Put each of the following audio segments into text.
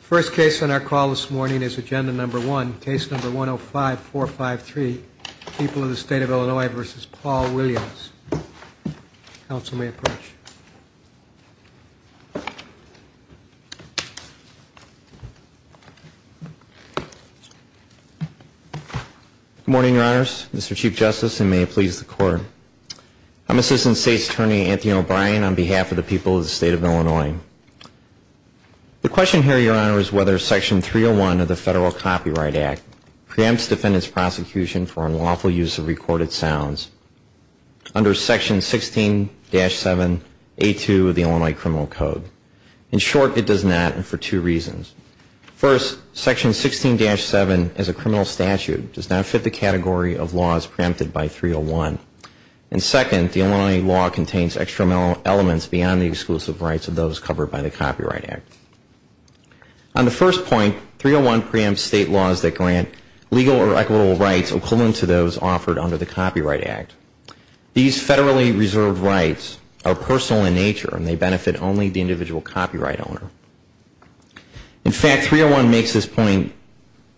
First case on our call this morning is agenda number one, case number 105453, People of the State of Illinois v. Paul Williams. Council may approach. Good morning, Your Honors, Mr. Chief Justice, and may it please the Court. I'm Assistant State's Attorney, Anthony O'Brien, on behalf of the people of the State of Illinois. The question here, Your Honor, is whether Section 301 of the Federal Copyright Act preempts defendants' prosecution for unlawful use of recorded sounds under Section 16-7A2 of the Illinois Criminal Code. In short, it does not, and for two reasons. First, Section 16-7, as a criminal statute, does not fit the category of laws preempted by 301. And second, the Illinois law contains extra elements beyond the exclusive rights of those covered by the Copyright Act. On the first point, 301 preempts state laws that grant legal or equitable rights equivalent to those offered under the Copyright Act. These federally reserved rights are personal in nature and they benefit only the individual copyright owner. In fact, 301 makes this point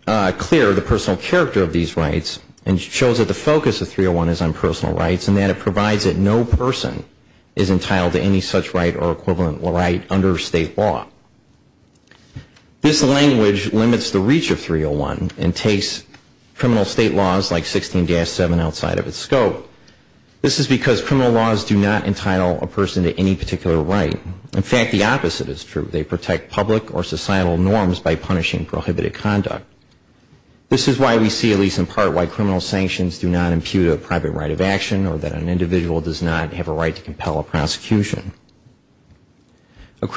clear, the personal character of these rights, and shows that the focus of 301 is on personal rights and that it provides that no person is entitled to any such right or equivalent right under state law. This language limits the reach of 301 and takes criminal state laws like 16-7 outside of its scope. This is because criminal laws do not entitle a person to any particular right. In fact, the opposite is true. They protect public or societal norms by punishing prohibited conduct. This is why we see, at least in part, why criminal sanctions do not impute a private right of action or that an individual does not have a right to compel a prosecution. At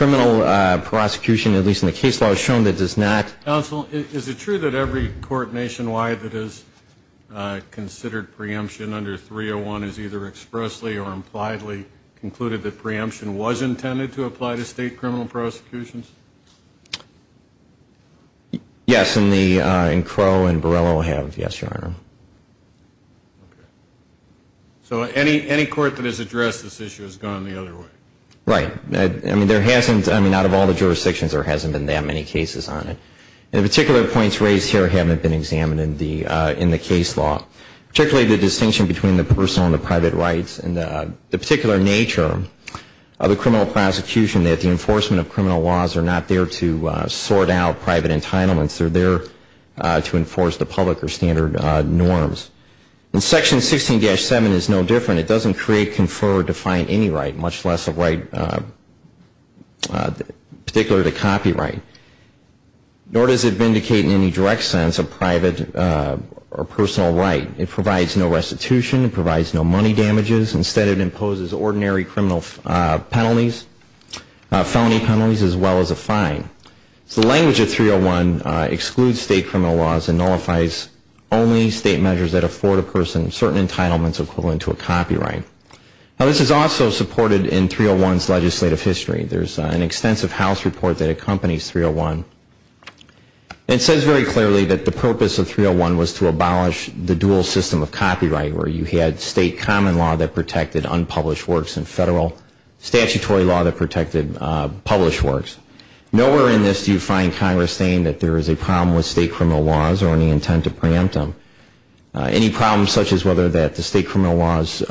least in the case law, it's shown that it does not. Counsel, is it true that every court nationwide that has considered preemption under 301 has either expressly or impliedly concluded that preemption was intended to apply to state criminal prosecutions? Yes, and Crow and Borrello have, yes, Your Honor. So any court that has addressed this issue has gone the other way? Right. I mean, there hasn't, I mean, out of all the jurisdictions, there hasn't been that many cases on it. And the particular points raised here haven't been examined in the case law, particularly the distinction between the personal and the private rights and the particular nature of the criminal prosecution that the enforcement of criminal laws are not there to sort out private entitlements. They're there to enforce the public or standard norms. And Section 16-7 is no different. It doesn't create, confer, or define any right, much less a right particular to copyright. Nor does it vindicate in any direct sense a private or personal right. It provides no restitution. It provides no money damages. Instead, it imposes ordinary criminal penalties, felony penalties, as well as a fine. So the language of 301 excludes state criminal laws and nullifies only state measures that afford a person certain entitlements equivalent to a copyright. Now, this is also supported in 301's legislative history. There's an extensive house report that accompanies 301. And it says very clearly that the purpose of 301 was to abolish the dual system of copyright, where you had state common law that protected unpublished works and federal statutory law that protected published works. Nowhere in this do you find Congress saying that there is a problem with state criminal laws or any intent to preempt them. Any problems such as whether the state criminal laws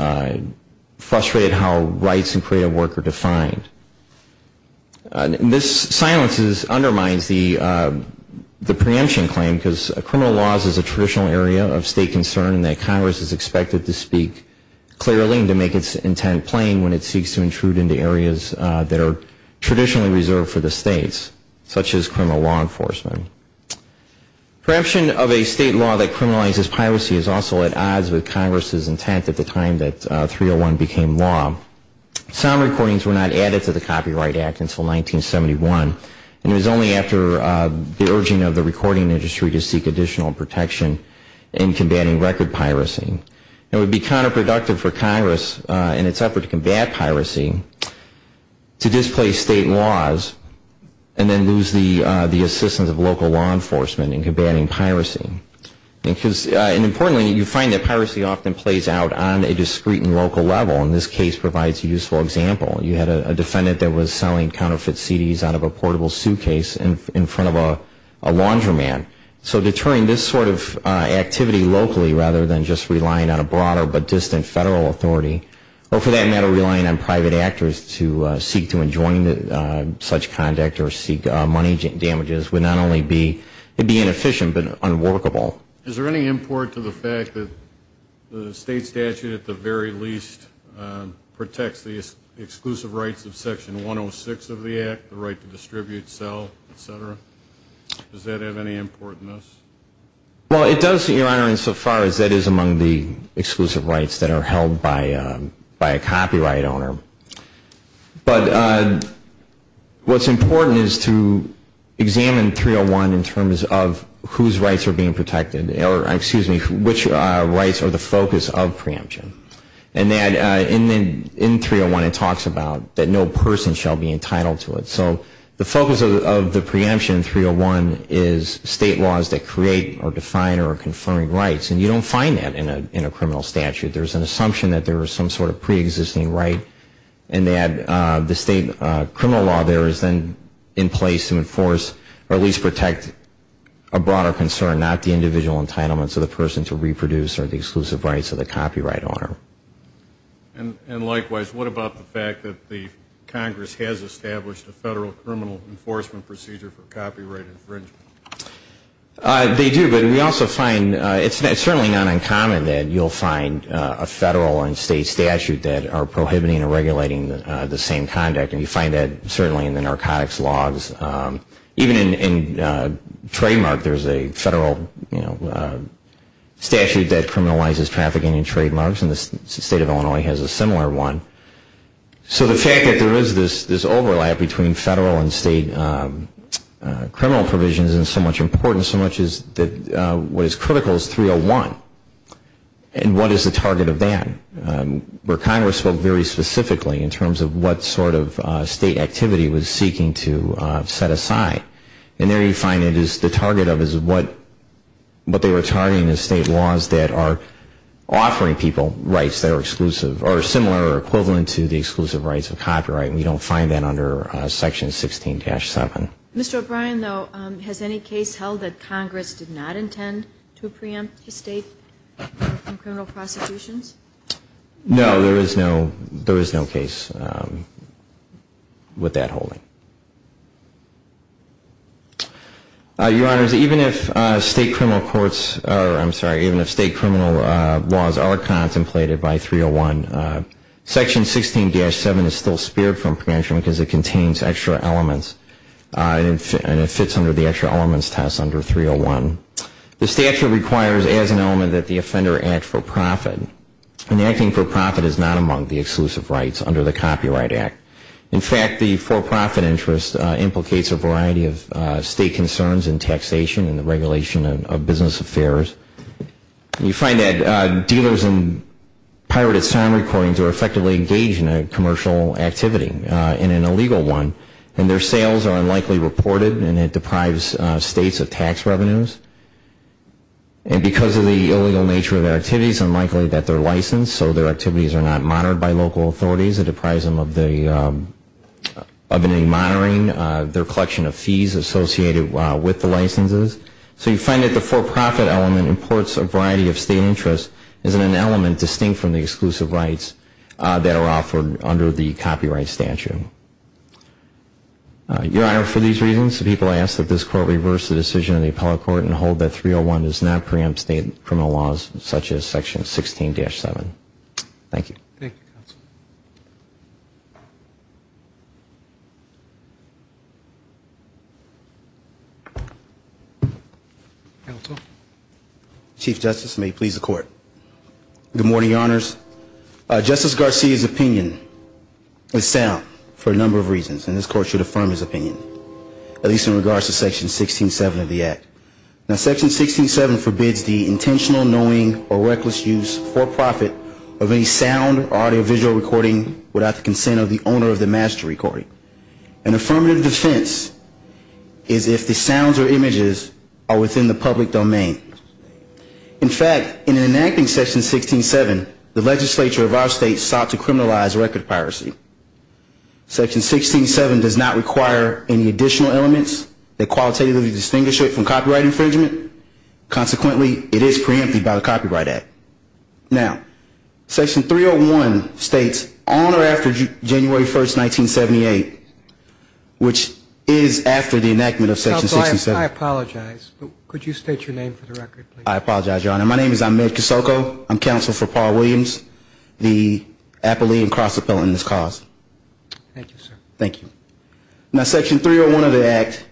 frustrate how rights and creative work are defined. This silence undermines the preemption claim, because criminal laws is a traditional area of state concern and that Congress is expected to speak clearly and to make its intent plain when it seeks to intrude into areas that are traditionally reserved for the states, such as criminal law enforcement. Preemption of a state law that criminalizes piracy is also at odds with Congress's intent at the time that 301 became law. Sound recordings were not added to the Copyright Act until 1971, and it was only after the urging of the recording industry to seek additional protection in combating record piracy. It would be counterproductive for Congress in its effort to combat piracy to displace state laws and then lose the assistance of local law enforcement in combating piracy. And importantly, you find that piracy often plays out on a discrete and local level, and this case provides a useful example. You had a defendant that was selling counterfeit CDs out of a portable suitcase in front of a laundromat. So deterring this sort of activity locally rather than just relying on a broader but distant federal authority, or for that matter, relying on private actors to seek to enjoin such conduct or seek money damages, would not only be inefficient, but unworkable. Is there any import to the fact that the state statute at the very least protects the exclusive rights of Section 106 of the Act, the right to distribute, sell, et cetera? Does that have any import in this? Well, it does, Your Honor, insofar as that is among the exclusive rights that are held by a copyright owner. But what's important is to examine 301 in terms of whose rights are being protected. Or, excuse me, which rights are the focus of preemption. And in 301 it talks about that no person shall be entitled to it. So the focus of the preemption in 301 is state laws that create or define or confirm rights, and you don't find that in a criminal statute. There's an assumption that there is some sort of preexisting right and that the state criminal law there is then in place to enforce or at least protect a broader concern, not the individual entitlements of the person to reproduce or the exclusive rights of the copyright owner. And likewise, what about the fact that the Congress has established a federal criminal enforcement procedure for copyright infringement? They do, but we also find, it's certainly not uncommon that you'll find a federal and state statute that are prohibiting or regulating the same conduct, and you find that certainly in the narcotics laws. Even in trademark, there's a federal statute that criminalizes trafficking in trademarks, and the state of Illinois has a similar one. So the fact that there is this overlap between federal and state criminal provisions is so much important, so much that what is critical is 301. And what is the target of that? Where Congress spoke very specifically in terms of what sort of state activity it was seeking to set aside, and there you find it is the target of what they were targeting as state laws that are offering people rights that are similar or equivalent to the exclusive rights of copyright, and you don't find that under Section 16-7. Mr. O'Brien, though, has any case held that Congress did not intend to preempt the state from criminal prosecutions? No, there is no case with that holding. Your Honors, even if state criminal courts, or I'm sorry, even if state criminal laws are contemplated by 301, Section 16-7 is still spared from preemption because it contains extra elements, and it fits under the extra elements test under 301. The statute requires as an element that the offender act for profit, and acting for profit is not among the exclusive rights under the Copyright Act. In fact, the for-profit interest implicates a variety of state concerns in taxation and the regulation of business affairs. You find that dealers and pirated sound recordings are effectively engaged in a commercial activity. In an illegal one, and their sales are unlikely reported, and it deprives states of tax revenues. And because of the illegal nature of their activities, it's unlikely that they're licensed, so their activities are not monitored by local authorities. It deprives them of any monitoring, their collection of fees associated with the licenses. So you find that the for-profit element imports a variety of state interests as an element distinct from the exclusive rights that are offered under the copyright statute. Your Honor, for these reasons, the people ask that this Court reverse the decision of the Appellate Court and hold that 301 does not preempt state criminal laws such as Section 16-7. Thank you. Chief Justice, may it please the Court. The sound, for a number of reasons, and this Court should affirm his opinion, at least in regards to Section 16-7 of the Act. Now, Section 16-7 forbids the intentional, annoying, or reckless use, for-profit, of any sound or audiovisual recording without the consent of the owner of the master recording. An affirmative defense is if the sounds or images are within the public domain. In fact, in enacting Section 16-7, the legislature of our state sought to criminalize record piracy. Section 16-7 does not require any additional elements that qualitatively distinguish it from copyright infringement. Consequently, it is preempted by the Copyright Act. Now, Section 301 states, on or after January 1, 1978, which is after the enactment of Section 16-7. I apologize, but could you state your name for the record, please? I apologize, Your Honor. My name is Ahmed Kosoko. I'm counsel for Paul Williams, the appellee and cross-appellant in this cause. Thank you, sir. Thank you. Now, Section 301 of the Act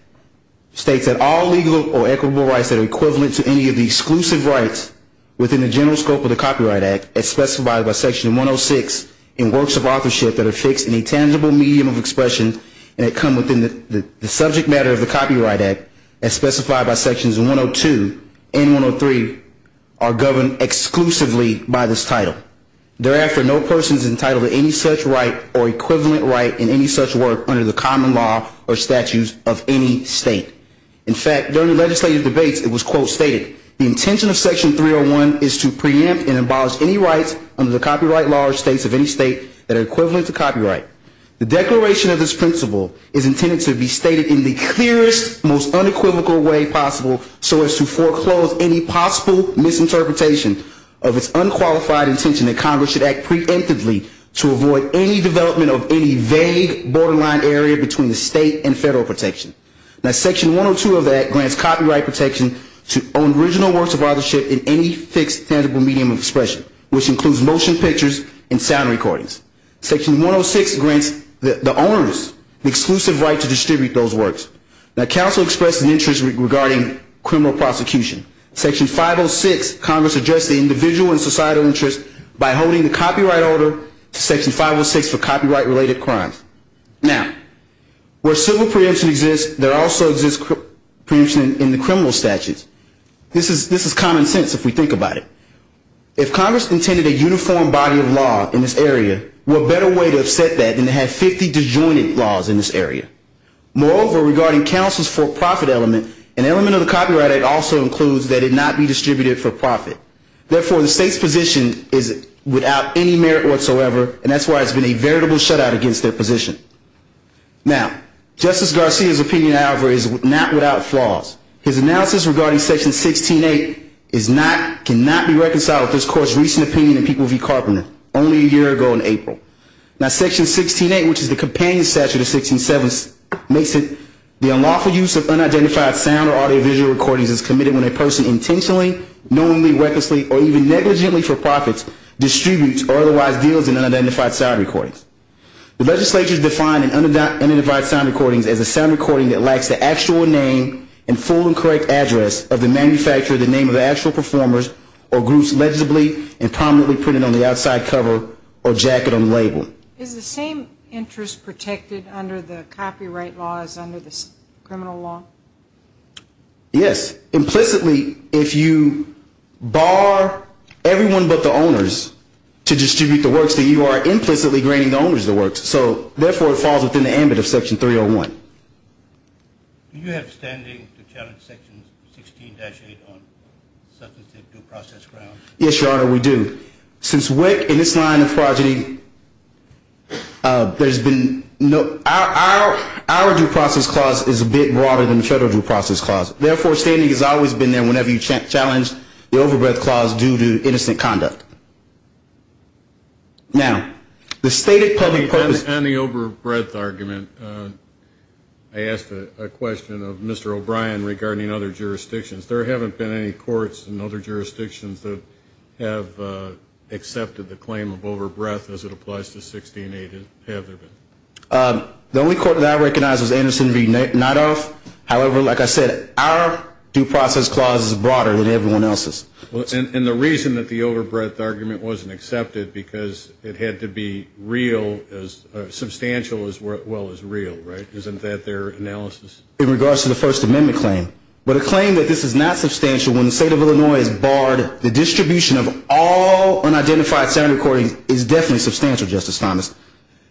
states that all legal or equitable rights that are equivalent to any of the exclusive rights within the general scope of the Copyright Act, as specified by Section 106, in works of authorship that are fixed in a tangible medium of expression, and that come within the subject matter of the Copyright Act, as specified by Sections 102 and 103. Section 103 are governed exclusively by this title. Thereafter, no person is entitled to any such right or equivalent right in any such work under the common law or statutes of any state. In fact, during legislative debates, it was, quote, stated, The intention of Section 301 is to preempt and abolish any rights under the copyright law or states of any state that are equivalent to copyright. The declaration of this principle is intended to be stated in the clearest, most unequivocal way possible, so as to foreclose any possible misinterpretation of its unqualified intention that Congress should act preemptively to avoid any development of any vague borderline area between the state and federal protection. Now, Section 102 of the Act grants copyright protection to original works of authorship in any fixed tangible medium of expression, which includes motion pictures and sound recordings. Section 106 grants the owners the exclusive right to distribute those works. Now, counsel expressed an interest regarding criminal prosecution. Section 506, Congress addressed the individual and societal interest by holding the copyright order to Section 506 for copyright-related crimes. Now, where civil preemption exists, there also exists preemption in the criminal statutes. This is common sense if we think about it. If Congress intended a uniform body of law in this area, what better way to have set that than to have 50 disjointed laws in this area? Moreover, regarding counsel's for-profit element, an element of the Copyright Act also includes that it not be distributed for profit. Therefore, the state's position is without any merit whatsoever, and that's why it's been a veritable shutout against their position. Now, Justice Garcia's opinion, however, is not without flaws. His analysis regarding Section 16.8 cannot be reconciled with this Court's recent opinion in People v. Carpenter, only a year ago in April. Now, Section 16.8, which is the Companion Statute of 16.7, makes it the unlawful use of unidentified sound or audiovisual recordings is committed when a person intentionally, knowingly, recklessly, or even negligently for profit distributes or otherwise deals in unidentified sound recordings. The legislature defined unidentified sound recordings as a sound recording that lacks the actual name and full and correct address of the manufacturer, the name of the actual performers, or groups legibly and prominently printed on the outside cover or jacket on which the record was made. The legislature also does not recognize that unidentified sound recordings are unlawful, and that's why it's been a veritable shutout against Section 16.8. Now, Justice Garcia's opinion, however, is not without flaws. His analysis regarding Section 16.8, which is the Companion Statute of 16.7, makes it the unlawful use of unidentified sound or audiovisual recordings. The legislature defined unidentified sound recordings as a sound recording that lacks the actual name and full and correct address of the manufacturer, the name of the actual performers, or groups legibly and prominently printed on the outside cover or jacket on which the record was made. There's been no, our due process clause is a bit broader than the federal due process clause. Therefore, standing has always been there whenever you challenge the overbreadth clause due to innocent conduct. Now, the stated public purpose. On the overbreadth argument, I asked a question of Mr. O'Brien regarding other jurisdictions. There haven't been any courts in other jurisdictions that have accepted the claim of overbreadth as it applies to 16.8, have there been? The only court that I recognize is Anderson v. Nidoff. However, like I said, our due process clause is broader than everyone else's. And the reason that the overbreadth argument wasn't accepted, because it had to be real, substantial as well as real, right? The claim that this is not substantial when the state of Illinois has barred the distribution of all unidentified sound recordings is definitely substantial, Justice Thomas.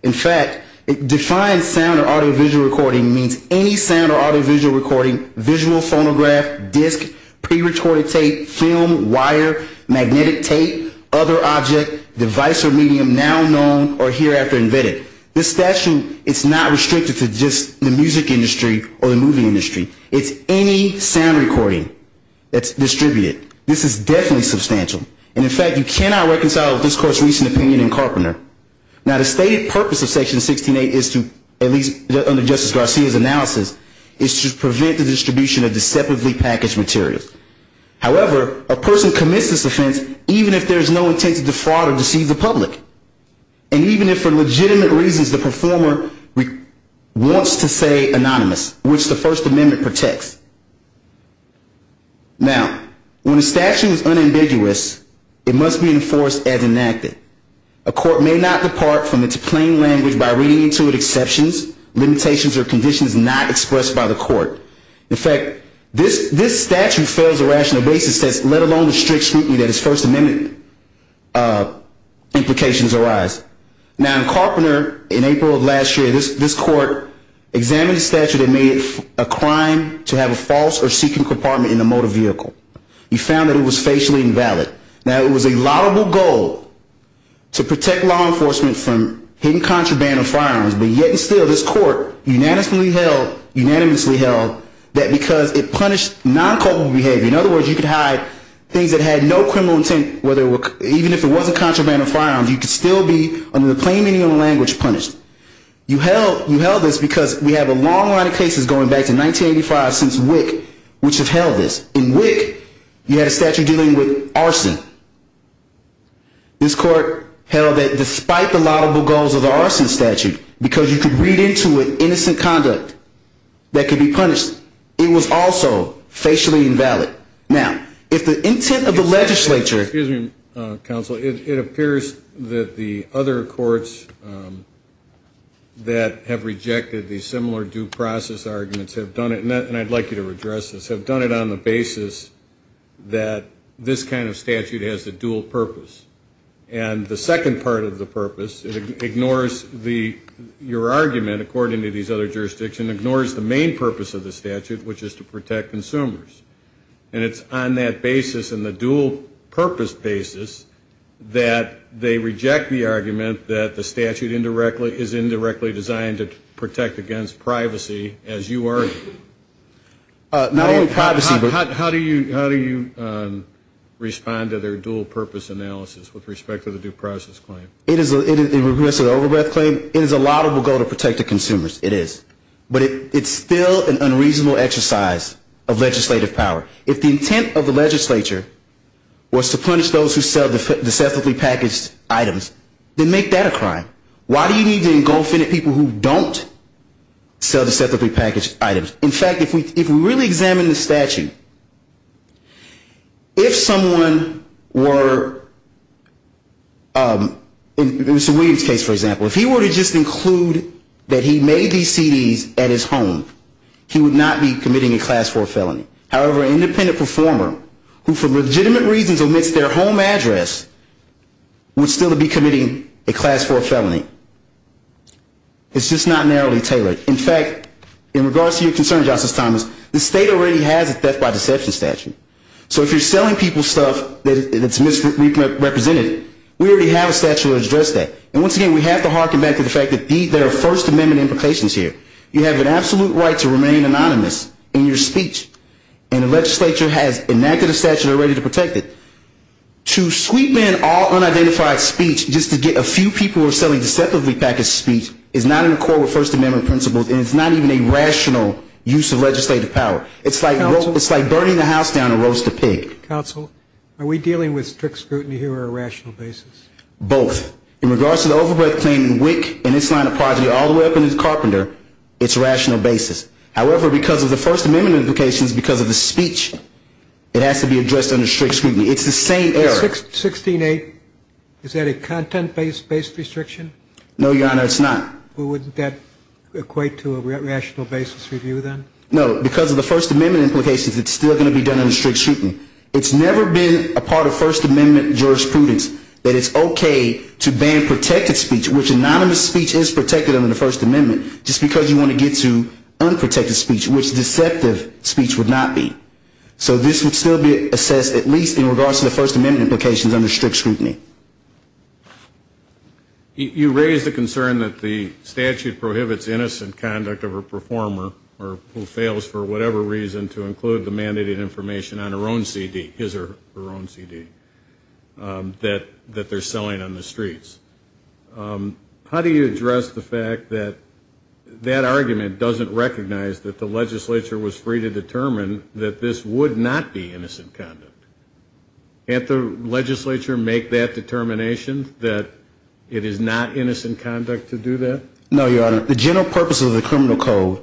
In fact, defined sound or audiovisual recording means any sound or audiovisual recording, visual, phonograph, disc, pre-recorded tape, film, wire, magnetic tape, other object, device or medium now known or hereafter invented. This statute is not restricted to just the music industry or the movie industry. It's any sound recording that's distributed. This is definitely substantial. And in fact, you cannot reconcile it with this Court's recent opinion in Carpenter. Now, the stated purpose of Section 16.8 is to, at least under Justice Garcia's analysis, is to prevent the distribution of deceptively packaged materials. However, a person commits this offense even if there's no intent to defraud or deceive the public. And even if for legitimate reasons the performer wants to say anonymous, which the First Amendment protects. Now, when a statute is unambiguous, it must be enforced as enacted. A court may not depart from its plain language by reading into it exceptions, limitations or conditions not expressed by the court. In fact, this statute fails a rational basis, let alone the strict scrutiny that its First Amendment implications arise. Now, in Carpenter, in April of last year, this court examined the statute and made it a crime to have a false or secret compartment in a motor vehicle. He found that it was facially invalid. Now, it was a laudable goal to protect law enforcement from hidden contraband of firearms. But yet and still, this court unanimously held that because it punished non-culpable behavior, in other words, you could hide things that had no criminal intent, even if it wasn't contraband of firearms, you could still be, under the plain meaning of the language, punished. You held this because we have a long line of cases going back to 1985 since WIC which have held this. In WIC, you had a statute dealing with arson. This court held that despite the laudable goals of the arson statute, because you could read into it innocent conduct that could be punished, it was also facially invalid. Now, if the intent of the legislature... Excuse me, counsel. It appears that the other courts that have rejected these similar due process arguments have done it, and I'd like you to redress this, have done it on the basis that this kind of statute has a dual purpose. And the second part of the purpose, it ignores the... Your argument, according to these other jurisdictions, ignores the main purpose of the statute, which is to protect consumers. And it's on that basis and the dual purpose basis that they reject the argument that the statute is indirectly designed to protect against privacy, as you argue. Not only privacy... How do you respond to their dual purpose analysis with respect to the due process claim? It is a laudable goal to protect the consumers, it is. But it's still an unreasonable exercise of legislative power. If the intent of the legislature was to punish those who sell deceptively packaged items, then make that a crime. Why do you need to engulf any people who don't sell deceptively packaged items? In fact, if we really examine the statute, if someone were... In Mr. Williams' case, for example, if he were to just include that he made these CDs at his home, he would not be committing a class 4 felony. However, an independent performer, who for legitimate reasons omits their home address, would still be committing a class 4 felony. It's just not narrowly tailored. In fact, in regards to your concern, Justice Thomas, the state already has a theft by deception statute. So if you're selling people stuff that's misrepresented, we already have a statute that addresses that. And once again, we have to harken back to the fact that there are First Amendment implications here. You have an absolute right to remain anonymous in your speech, and the legislature has enacted a statute already to protect it. To sweep in all unidentified speech just to get a few people who are selling deceptively packaged speech is not in accord with First Amendment principles, and it's not even a rational use of legislative power. It's like burning the house down and roast a pig. Counsel, are we dealing with strict scrutiny here or a rational basis? Both. In regards to the overbred claim in WIC and its line of progeny all the way up into Carpenter, it's a rational basis. However, because of the First Amendment implications, because of the speech, it has to be addressed under strict scrutiny. It's the same error. 16-8, is that a content-based restriction? No, Your Honor, it's not. Well, wouldn't that equate to a rational basis review then? No, because of the First Amendment implications, it's still going to be done under strict scrutiny. It's never been a part of First Amendment jurisprudence that it's okay to ban protected speech, which anonymous speech is protected under the First Amendment, just because you want to get to unprotected speech, which deceptive speech would not be. So this would still be assessed at least in regards to the First Amendment implications under strict scrutiny. You raise the concern that the statute prohibits innocent conduct of a performer who fails for whatever reason to include the mandated information on her own CD, his or her own CD, that they're selling on the streets. How do you address the fact that that argument doesn't recognize that the legislature was free to determine that this would not be innocent conduct? Can't the legislature make that determination that it is not innocent conduct to do that? No, Your Honor, the general purpose of the criminal code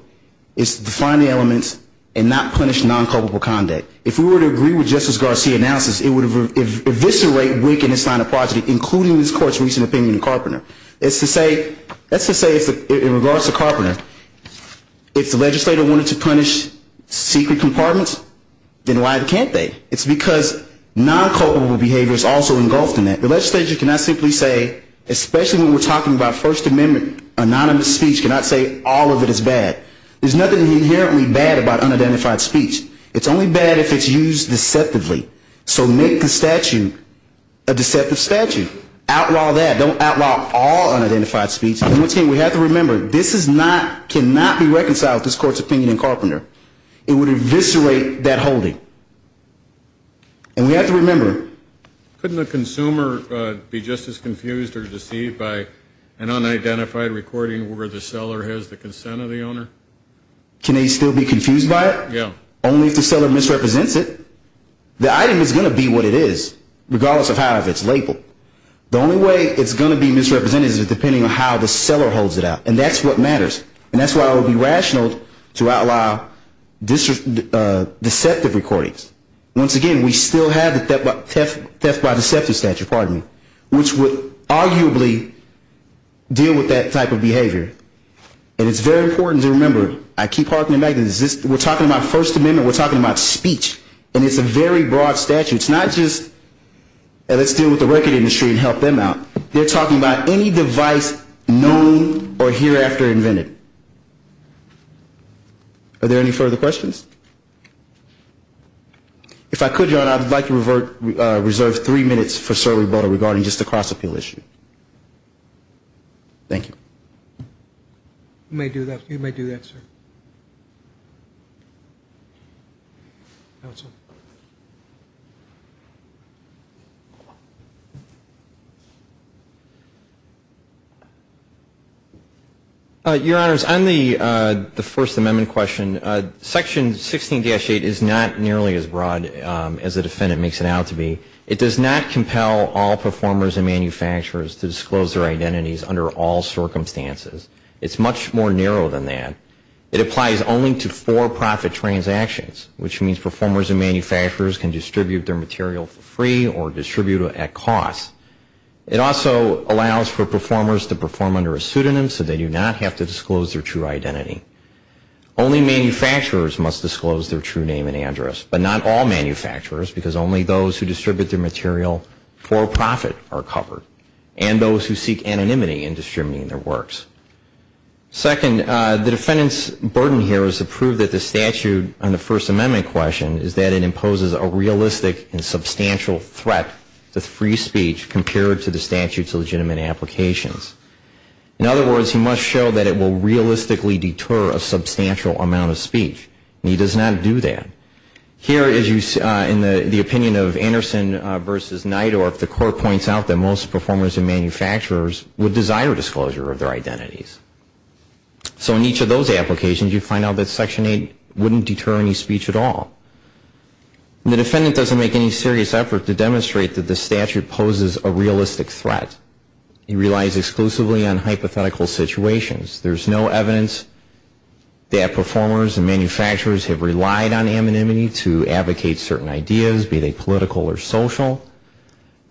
is to define the elements and not punish non-culpable conduct. If we were to agree with Justice Garcia's analysis, it would eviscerate, weaken, and sign a project, including this Court's recent opinion in Carpenter. That's to say, in regards to Carpenter, if the legislature wanted to punish secret compartments, then why can't they? It's because non-culpable behavior is also engulfed in that. The legislature cannot simply say, especially when we're talking about First Amendment anonymous speech, cannot say all of it is bad. There's nothing inherently bad about unidentified speech. It's only bad if it's used deceptively. So make the statute a deceptive statute. Outlaw that. Don't outlaw all unidentified speech. We have to remember, this cannot be reconciled with this Court's opinion in Carpenter. It would eviscerate that holding. And we have to remember. Couldn't a consumer be just as confused or deceived by an unidentified recording where the seller has the consent of the owner? Can they still be confused by it? Only if the seller misrepresents it. The item is going to be what it is, regardless of how it's labeled. The only way it's going to be misrepresented is depending on how the seller holds it out. And that's what matters. And that's why it would be rational to outlaw deceptive recordings. Once again, we still have the theft by deceptive statute, which would arguably deal with that type of behavior. And it's very important to remember. We're talking about First Amendment. We're talking about speech. And it's a very broad statute. It's not just let's deal with the record industry and help them out. They're talking about any device known or hereafter invented. Are there any further questions? If I could, John, I'd like to reserve three minutes for Sir Reboto regarding just the cross-appeal issue. Thank you. You may do that, sir. Your Honors, on the First Amendment question, Section 16-8 is not nearly as broad as the defendant makes it out to be. It does not compel all performers and manufacturers to disclose their identities under all circumstances. It's much more narrow than that. It applies only to for-profit transactions, which means performers and manufacturers can distribute their material for free or distribute it at cost. It also allows for performers to perform under a pseudonym so they do not have to disclose their true identity. Only manufacturers must disclose their true name and address, but not all manufacturers, because only those who distribute their material for profit are covered, and those who seek anonymity in distributing their works. Second, the defendant's burden here is to prove that the statute on the First Amendment question is that it imposes a realistic and substantial threat to free speech compared to the statute's legitimate applications. In other words, he must show that it will realistically deter a substantial amount of speech. And he does not do that. Here, as you see, in the opinion of Anderson v. Nidor, the court points out that most performers and manufacturers would desire disclosure of their identities. So in each of those applications, you find out that Section 8 wouldn't deter any speech at all. The defendant doesn't make any serious effort to demonstrate that the statute poses a realistic threat. He relies exclusively on hypothetical situations. There's no evidence that performers and manufacturers have relied on anonymity to advocate certain ideas, be they political or social.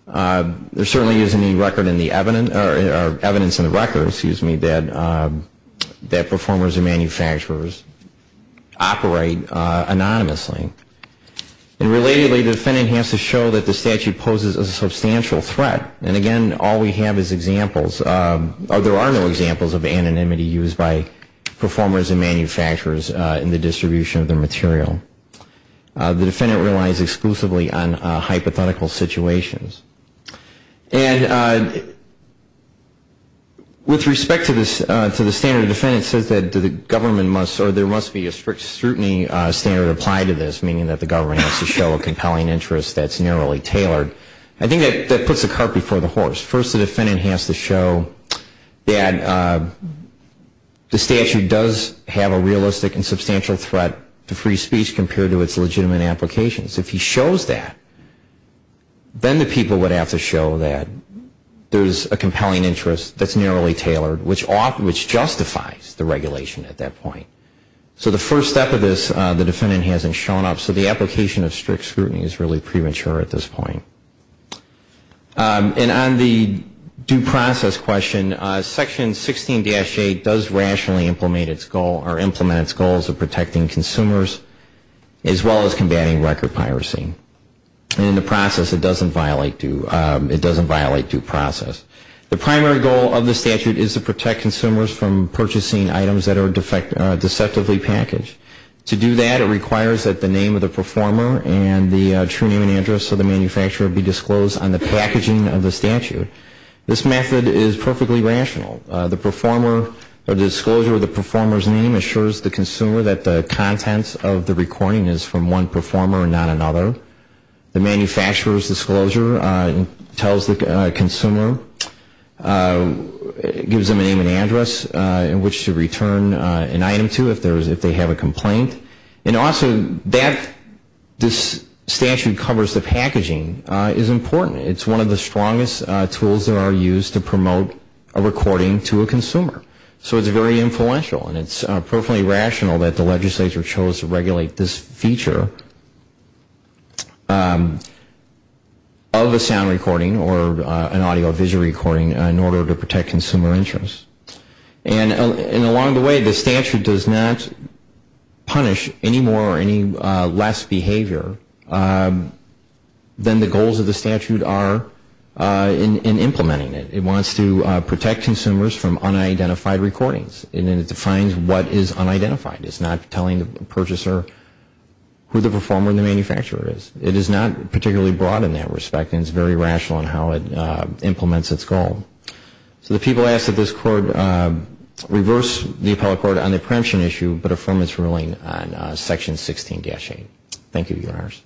There certainly isn't any record in the evidence or evidence in the records, excuse me, that performers and manufacturers operate anonymously. And relatedly, the defendant has to show that the statute poses a substantial threat. And again, all we have is examples. There are no examples of anonymity used by performers and manufacturers in the distribution of their material. The defendant relies exclusively on hypothetical situations. And with respect to the standard of defense, it says that the government must or there must be a strict scrutiny standard applied to this, meaning that the government has to show a compelling interest that's narrowly tailored. I think that puts the cart before the horse. First, the defendant has to show that the statute does have a realistic and substantial threat to free speech compared to its legitimate applications. If he shows that, then the people would have to show that there's a compelling interest that's narrowly tailored, which justifies the regulation at that point. So the first step of this, the defendant hasn't shown up. So the application of strict scrutiny is really premature at this point. And on the due process question, Section 16-8 does rationally implement its goal of protecting consumers as well as combating record piracy. And in the process, it doesn't violate due process. The primary goal of the statute is to protect consumers from purchasing items that are deceptively packaged. To do that, it requires that the name of the performer and the true name and address of the manufacturer be disclosed on the packaging of the statute. This method is perfectly rational. The disclosure of the performer's name assures the consumer that the contents of the recording is from one performer and not another. The manufacturer's disclosure tells the consumer, gives them a name and address in which to return an item to if they have a complaint. And also that this statute covers the packaging is important. It's one of the strongest tools that are used to promote a recording to a consumer. So it's very influential. And it's perfectly rational that the legislature chose to regulate this feature of a sound recording or an audiovisual recording in order to protect consumer interest. And along the way, the statute does not punish any more or any less behavior than the goals of the statute are in implementing it. It wants to protect consumers from unidentified recordings. And it defines what is unidentified. It's not telling the purchaser who the performer and the manufacturer is. It is not particularly broad in that respect, and it's very rational in how it implements its goal. So the people ask that this Court reverse the appellate court on the preemption issue, but affirm its ruling on Section 16-8. Thank you, Your Honors.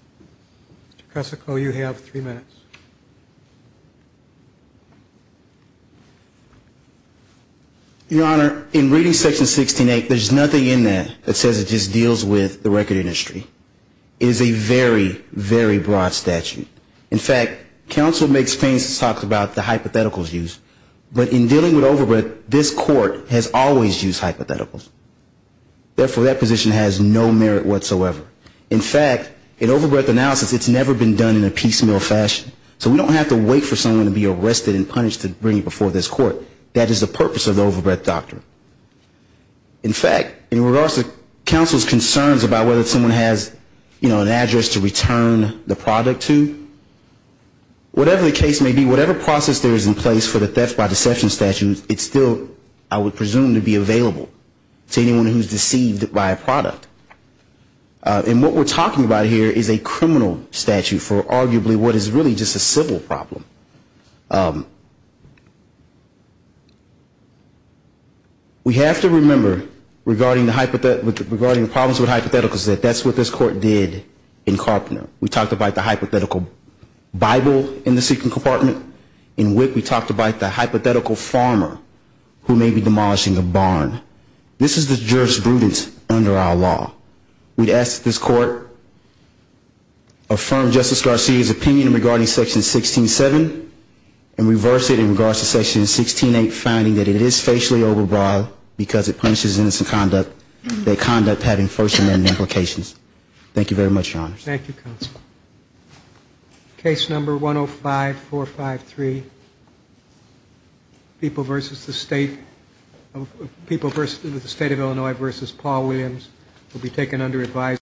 Mr. Cossico, you have three minutes. Your Honor, in reading Section 16-8, there's nothing in there that says it just deals with the record industry. It is a very, very broad statute. In fact, counsel makes claims to talk about the hypotheticals used. But in dealing with overbreadth, this Court has always used hypotheticals. Therefore, that position has no merit whatsoever. In fact, in overbreadth analysis, it's never been done in a piecemeal fashion. So we don't have to wait for someone to be arrested and punished to bring it before this Court. That is the purpose of the overbreadth doctrine. In fact, in regards to counsel's concerns about whether someone has, you know, an address to return the product to, whatever the case may be, whatever process there is in place for the theft by deception statute, it's still, I would presume, to be available to anyone who is deceived by a product. And what we're talking about here is a criminal statute for arguably what is really just a civil problem. We have to remember, regarding the problems with hypotheticals, that that's what this Court did in Carpenter. We talked about the hypothetical Bible in the secret compartment. In Wick, we talked about the hypothetical farmer who may be demolishing a barn. This is the jurisprudence under our law. We'd ask that this Court affirm Justice Garcia's opinion regarding Section 16.7 and reverse it in regards to Section 16.8, finding that it is facially overbroad because it punishes innocent conduct, having first-amendment implications. Thank you very much, Your Honors. Thank you, Counsel. Case number 105453, People v. the State of Illinois v. Paul Williams, will be taken under advisory.